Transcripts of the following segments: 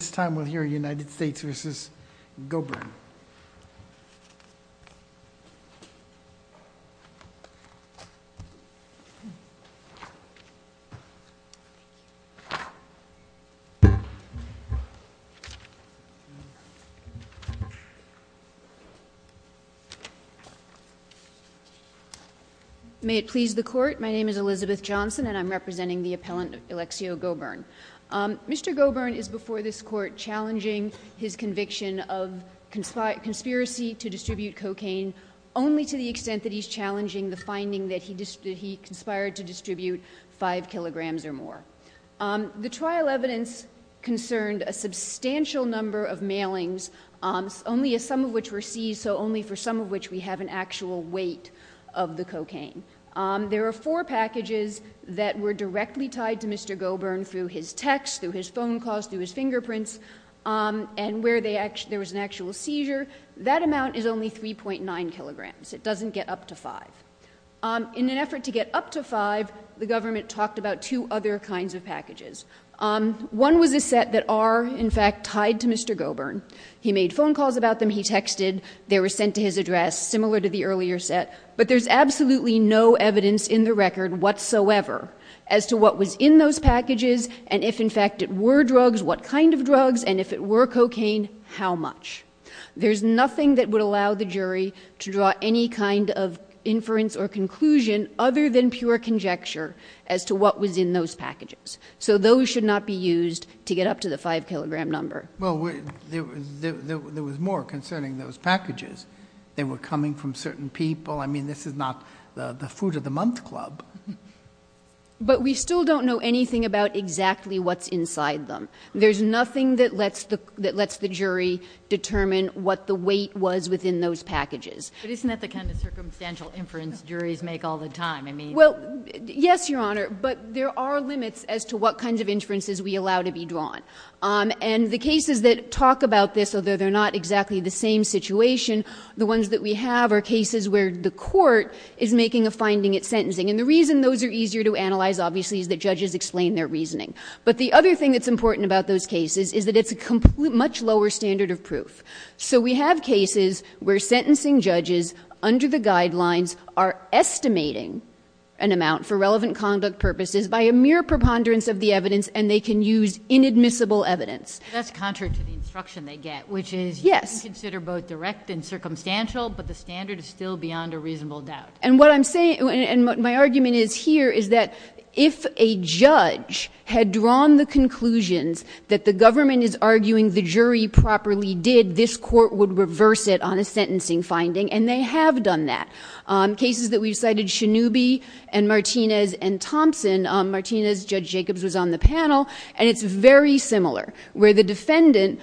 This time we'll hear United States v. Gobern. May it please the court, my name is Elizabeth Johnson and I'm representing the appellant Alexio Gobern. Mr. Gobern is before this court challenging his conviction of conspiracy to distribute cocaine, only to the extent that he's challenging the finding that he conspired to distribute five kilograms or more. The trial evidence concerned a substantial number of mailings, only some of which were seized, so only for some of which we have an actual weight of the cocaine. There are four packages that were directly tied to Mr. Gobern through his text, through his phone calls, through his fingerprints, and where there was an actual seizure. That amount is only 3.9 kilograms. It doesn't get up to five. In an effort to get up to five, the government talked about two other kinds of packages. One was a set that are, in fact, tied to Mr. Gobern. He made phone calls about them. He texted. They were sent to his address, similar to the earlier set. But there's absolutely no evidence in the record whatsoever as to what was in those packages and if, in fact, it were drugs, what kind of drugs, and if it were cocaine, how much. There's nothing that would allow the jury to draw any kind of inference or conclusion other than pure conjecture as to what was in those packages. So those should not be used to get up to the five-kilogram number. Well, there was more concerning those packages. They were coming from certain people. I mean, this is not the food of the month club. But we still don't know anything about exactly what's inside them. There's nothing that lets the jury determine what the weight was within those packages. But isn't that the kind of circumstantial inference juries make all the time? Well, yes, Your Honor, but there are limits as to what kinds of inferences we allow to be drawn. And the cases that talk about this, although they're not exactly the same situation, the ones that we have are cases where the court is making a finding at sentencing. And the reason those are easier to analyze, obviously, is that judges explain their reasoning. But the other thing that's important about those cases is that it's a much lower standard of proof. So we have cases where sentencing judges, under the guidelines, are estimating an amount for relevant conduct purposes by a mere preponderance of the evidence and they can use inadmissible evidence. That's contrary to the instruction they get, which is you can consider both direct and circumstantial, but the standard is still beyond a reasonable doubt. And what I'm saying, and what my argument is here, is that if a judge had drawn the conclusions that the government is arguing the jury properly did, this court would reverse it on a sentencing finding. And they have done that. Cases that we've cited, Shannoubi and Martinez and Thompson. Martinez, Judge Jacobs, was on the panel, and it's very similar. Where the defendant,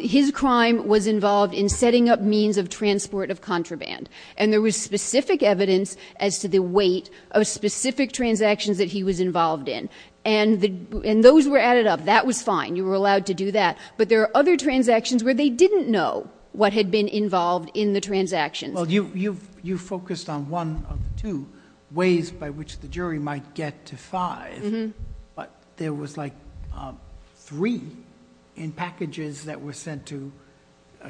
his crime was involved in setting up means of transport of contraband. And there was specific evidence as to the weight of specific transactions that he was involved in. And those were added up. That was fine. You were allowed to do that. But there are other transactions where they didn't know what had been involved in the transactions. Well, you focused on one of the two ways by which the jury might get to five, but there was like three in packages that were sent to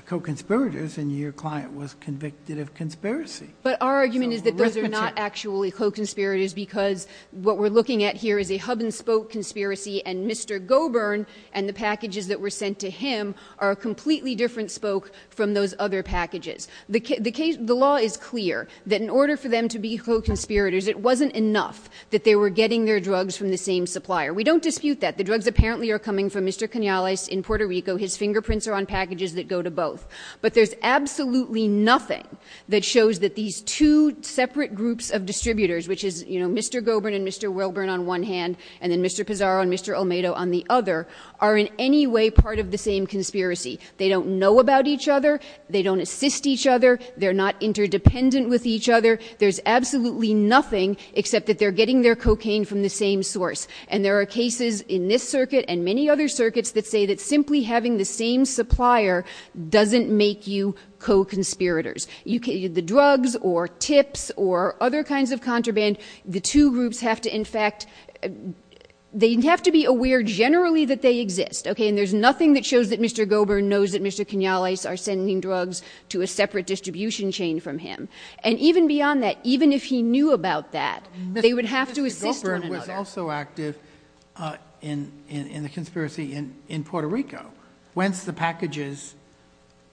co-conspirators, and your client was convicted of conspiracy. But our argument is that those are not actually co-conspirators because what we're looking at here is a hub-and-spoke conspiracy, and Mr. Goburn and the packages that were sent to him are a completely different spoke from those other packages. The law is clear that in order for them to be co-conspirators, it wasn't enough that they were getting their drugs from the same supplier. We don't dispute that. The drugs apparently are coming from Mr. Canales in Puerto Rico. His fingerprints are on packages that go to both. But there's absolutely nothing that shows that these two separate groups of distributors, which is, you know, Mr. Goburn and Mr. Wilburn on one hand, and then Mr. Pizarro and Mr. Almedo on the other, are in any way part of the same conspiracy. They don't know about each other. They don't assist each other. They're not interdependent with each other. There's absolutely nothing except that they're getting their cocaine from the same source. And there are cases in this circuit and many other circuits that say that simply having the same supplier doesn't make you co-conspirators. The drugs or tips or other kinds of contraband, the two groups have to, in fact, they have to be aware generally that they exist. Okay? And there's nothing that shows that Mr. Goburn knows that Mr. Canales are sending drugs to a separate distribution chain from him. And even beyond that, even if he knew about that, they would have to assist one another. Mr. Goburn was also active in the conspiracy in Puerto Rico whence the packages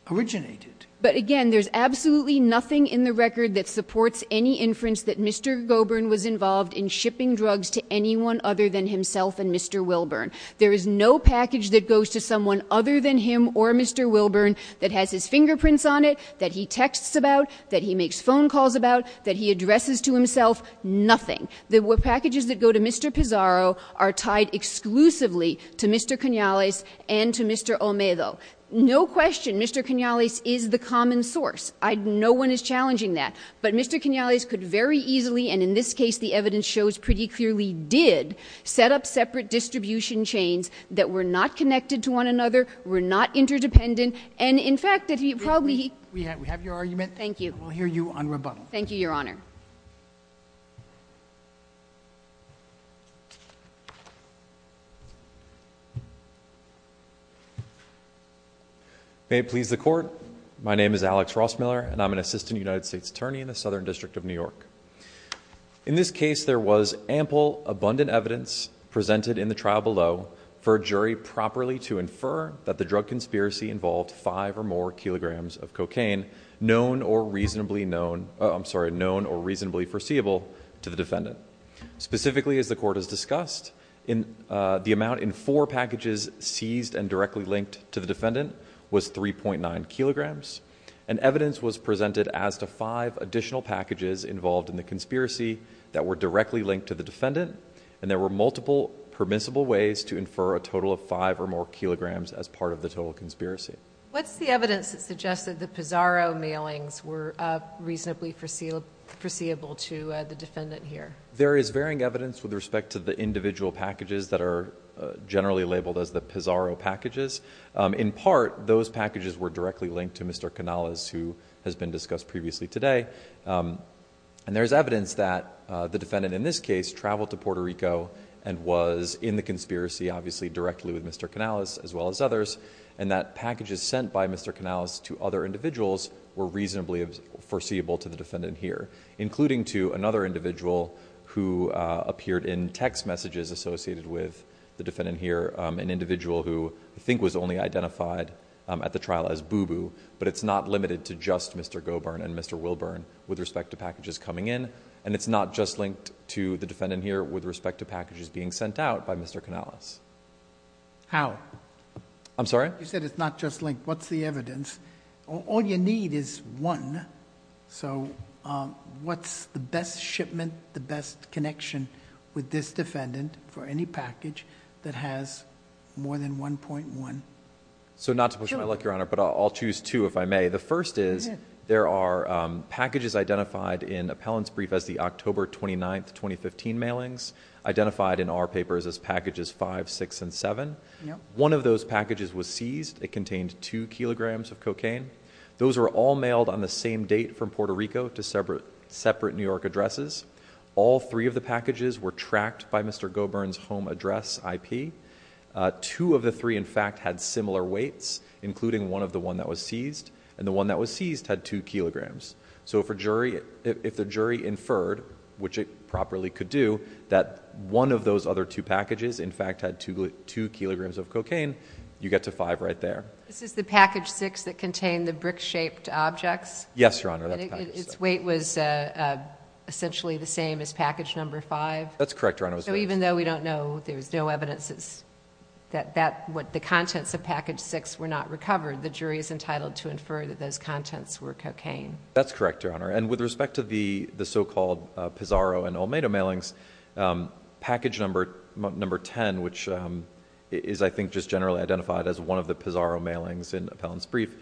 originated. But, again, there's absolutely nothing in the record that supports any inference that Mr. Goburn was involved in shipping drugs to anyone other than himself and Mr. Wilburn. There is no package that goes to someone other than him or Mr. Wilburn that has his fingerprints on it, that he texts about, that he makes phone calls about, that he addresses to himself. Nothing. The packages that go to Mr. Pizarro are tied exclusively to Mr. Canales and to Mr. Almedo. No question Mr. Canales is the common source. No one is challenging that. But Mr. Canales could very easily, and in this case the evidence shows pretty clearly did, set up separate distribution chains that were not connected to one another, were not interdependent, and in fact that he probably- We have your argument. Thank you. We'll hear you on rebuttal. Thank you, Your Honor. May it please the Court. My name is Alex Rossmiller, and I'm an Assistant United States Attorney in the Southern District of New York. In this case, there was ample, abundant evidence presented in the trial below for a jury properly to infer that the drug conspiracy involved five or more kilograms of cocaine known or reasonably known, I'm sorry, known or reasonably foreseeable to the defendant. Specifically, as the Court has discussed, the amount in four packages seized and directly linked to the defendant was 3.9 kilograms, and evidence was presented as to five additional packages involved in the conspiracy that were directly linked to the defendant, and there were multiple permissible ways to infer a total of five or more kilograms as part of the total conspiracy. What's the evidence that suggests that the Pizarro mailings were reasonably foreseeable to the defendant here? There is varying evidence with respect to the individual packages that are generally labeled as the Pizarro packages. In part, those packages were directly linked to Mr. Canales, who has been discussed previously today. There is evidence that the defendant in this case traveled to Puerto Rico and was in the conspiracy, obviously, directly with Mr. Canales as well as others, and that packages sent by Mr. Canales to other individuals were reasonably foreseeable to the defendant here, including to another individual who appeared in text messages associated with the defendant here, an individual who I think was only identified at the trial as Boo Boo, but it's not limited to just Mr. Gobern and Mr. Wilburn. With respect to packages coming in, and it's not just linked to the defendant here with respect to packages being sent out by Mr. Canales. How? I'm sorry? You said it's not just linked. What's the evidence? All you need is one, so what's the best shipment, the best connection with this defendant for any package that has more than 1.1? So not to push my luck, Your Honor, but I'll choose two if I may. The first is there are packages identified in appellant's brief as the October 29th, 2015 mailings, identified in our papers as packages five, six, and seven. One of those packages was seized. It contained two kilograms of cocaine. Those were all mailed on the same date from Puerto Rico to separate New York addresses. All three of the packages were tracked by Mr. Gobern's home address IP. Two of the three, in fact, had similar weights, including one of the one that was seized, and the one that was seized had two kilograms. So if the jury inferred, which it properly could do, that one of those other two packages, in fact, had two kilograms of cocaine, you get to five right there. This is the package six that contained the brick-shaped objects? Yes, Your Honor. And its weight was essentially the same as package number five? That's correct, Your Honor. So even though we don't know, there's no evidence that the contents of package six were not recovered, the jury is entitled to infer that those contents were cocaine? That's correct, Your Honor. And with respect to the so-called Pizarro and Almeida mailings, package number ten, which is, I think, just generally identified as one of the Pizarro mailings in appellant's brief,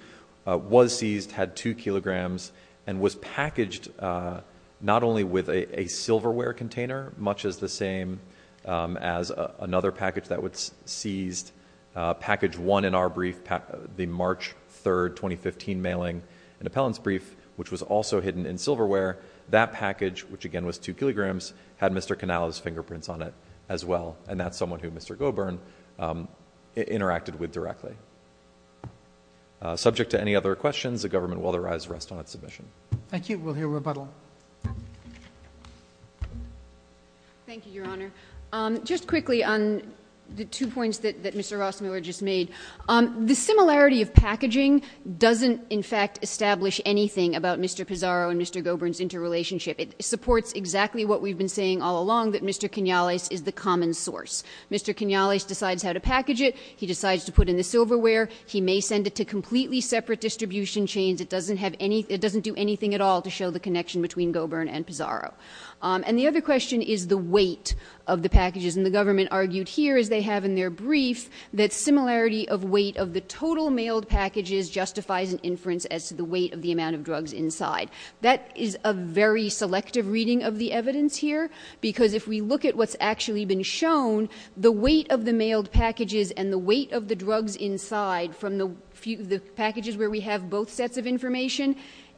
was seized, had two kilograms, and was packaged not only with a silverware container, much as the same as another package that was seized, package one in our brief, the March 3, 2015 mailing, an appellant's brief, which was also hidden in silverware, that package, which again was two kilograms, had Mr. Canale's fingerprints on it as well. And that's someone who Mr. Gobern interacted with directly. Subject to any other questions, the government will, therefore, rest on its admission. Thank you. We'll hear rebuttal. Thank you, Your Honor. Just quickly on the two points that Mr. Rossmiller just made. The similarity of packaging doesn't, in fact, establish anything about Mr. Pizarro and Mr. Gobern's interrelationship. It supports exactly what we've been saying all along, that Mr. Canale is the common source. Mr. Canale decides how to package it. He decides to put in the silverware. He may send it to completely separate distribution chains. It doesn't have any, it doesn't do anything at all to show the connection between Gobern and Pizarro. And the other question is the weight of the packages. And the government argued here, as they have in their brief, that similarity of weight of the total mailed packages justifies an inference as to the weight of the amount of drugs inside. That is a very selective reading of the evidence here, because if we look at what's actually been shown, the weight of the mailed packages and the weight of the drugs inside from the packages where we have both sets of information,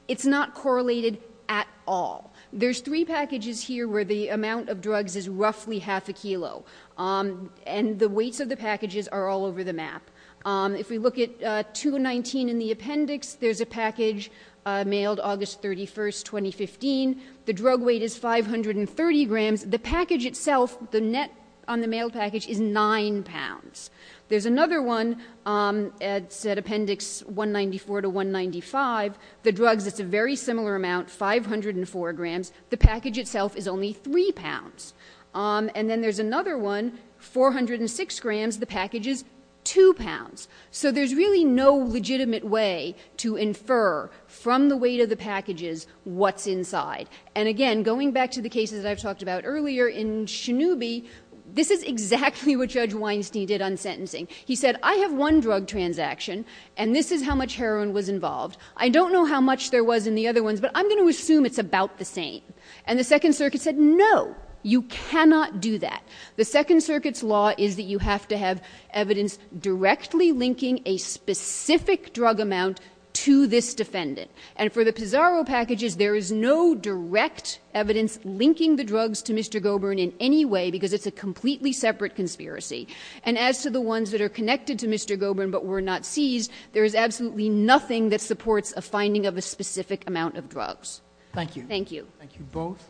it's not correlated at all. There's three packages here where the amount of drugs is roughly half a kilo. And the weights of the packages are all over the map. If we look at 219 in the appendix, there's a package mailed August 31st, 2015. The drug weight is 530 grams. The package itself, the net on the mail package is 9 pounds. There's another one at appendix 194 to 195. The drugs, it's a very similar amount, 504 grams. The package itself is only 3 pounds. And then there's another one, 406 grams. The package is 2 pounds. So there's really no legitimate way to infer from the weight of the packages what's inside. And, again, going back to the cases that I've talked about earlier, in Schenube, this is exactly what Judge Weinstein did on sentencing. He said, I have one drug transaction, and this is how much heroin was involved. I don't know how much there was in the other ones, but I'm going to assume it's about the same. And the Second Circuit said, no, you cannot do that. The Second Circuit's law is that you have to have evidence directly linking a specific drug amount to this defendant. And for the Pizarro packages, there is no direct evidence linking the drugs to Mr. Gobern in any way, because it's a completely separate conspiracy. And as to the ones that are connected to Mr. Gobern but were not seized, there is absolutely nothing that supports a finding of a specific amount of drugs. Thank you. Thank you. Thank you both.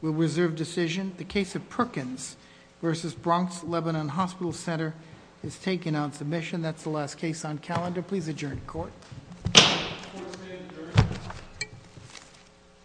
We'll reserve decision. The case of Perkins v. Bronx-Lebanon Hospital Center is taken on submission. Please adjourn to court.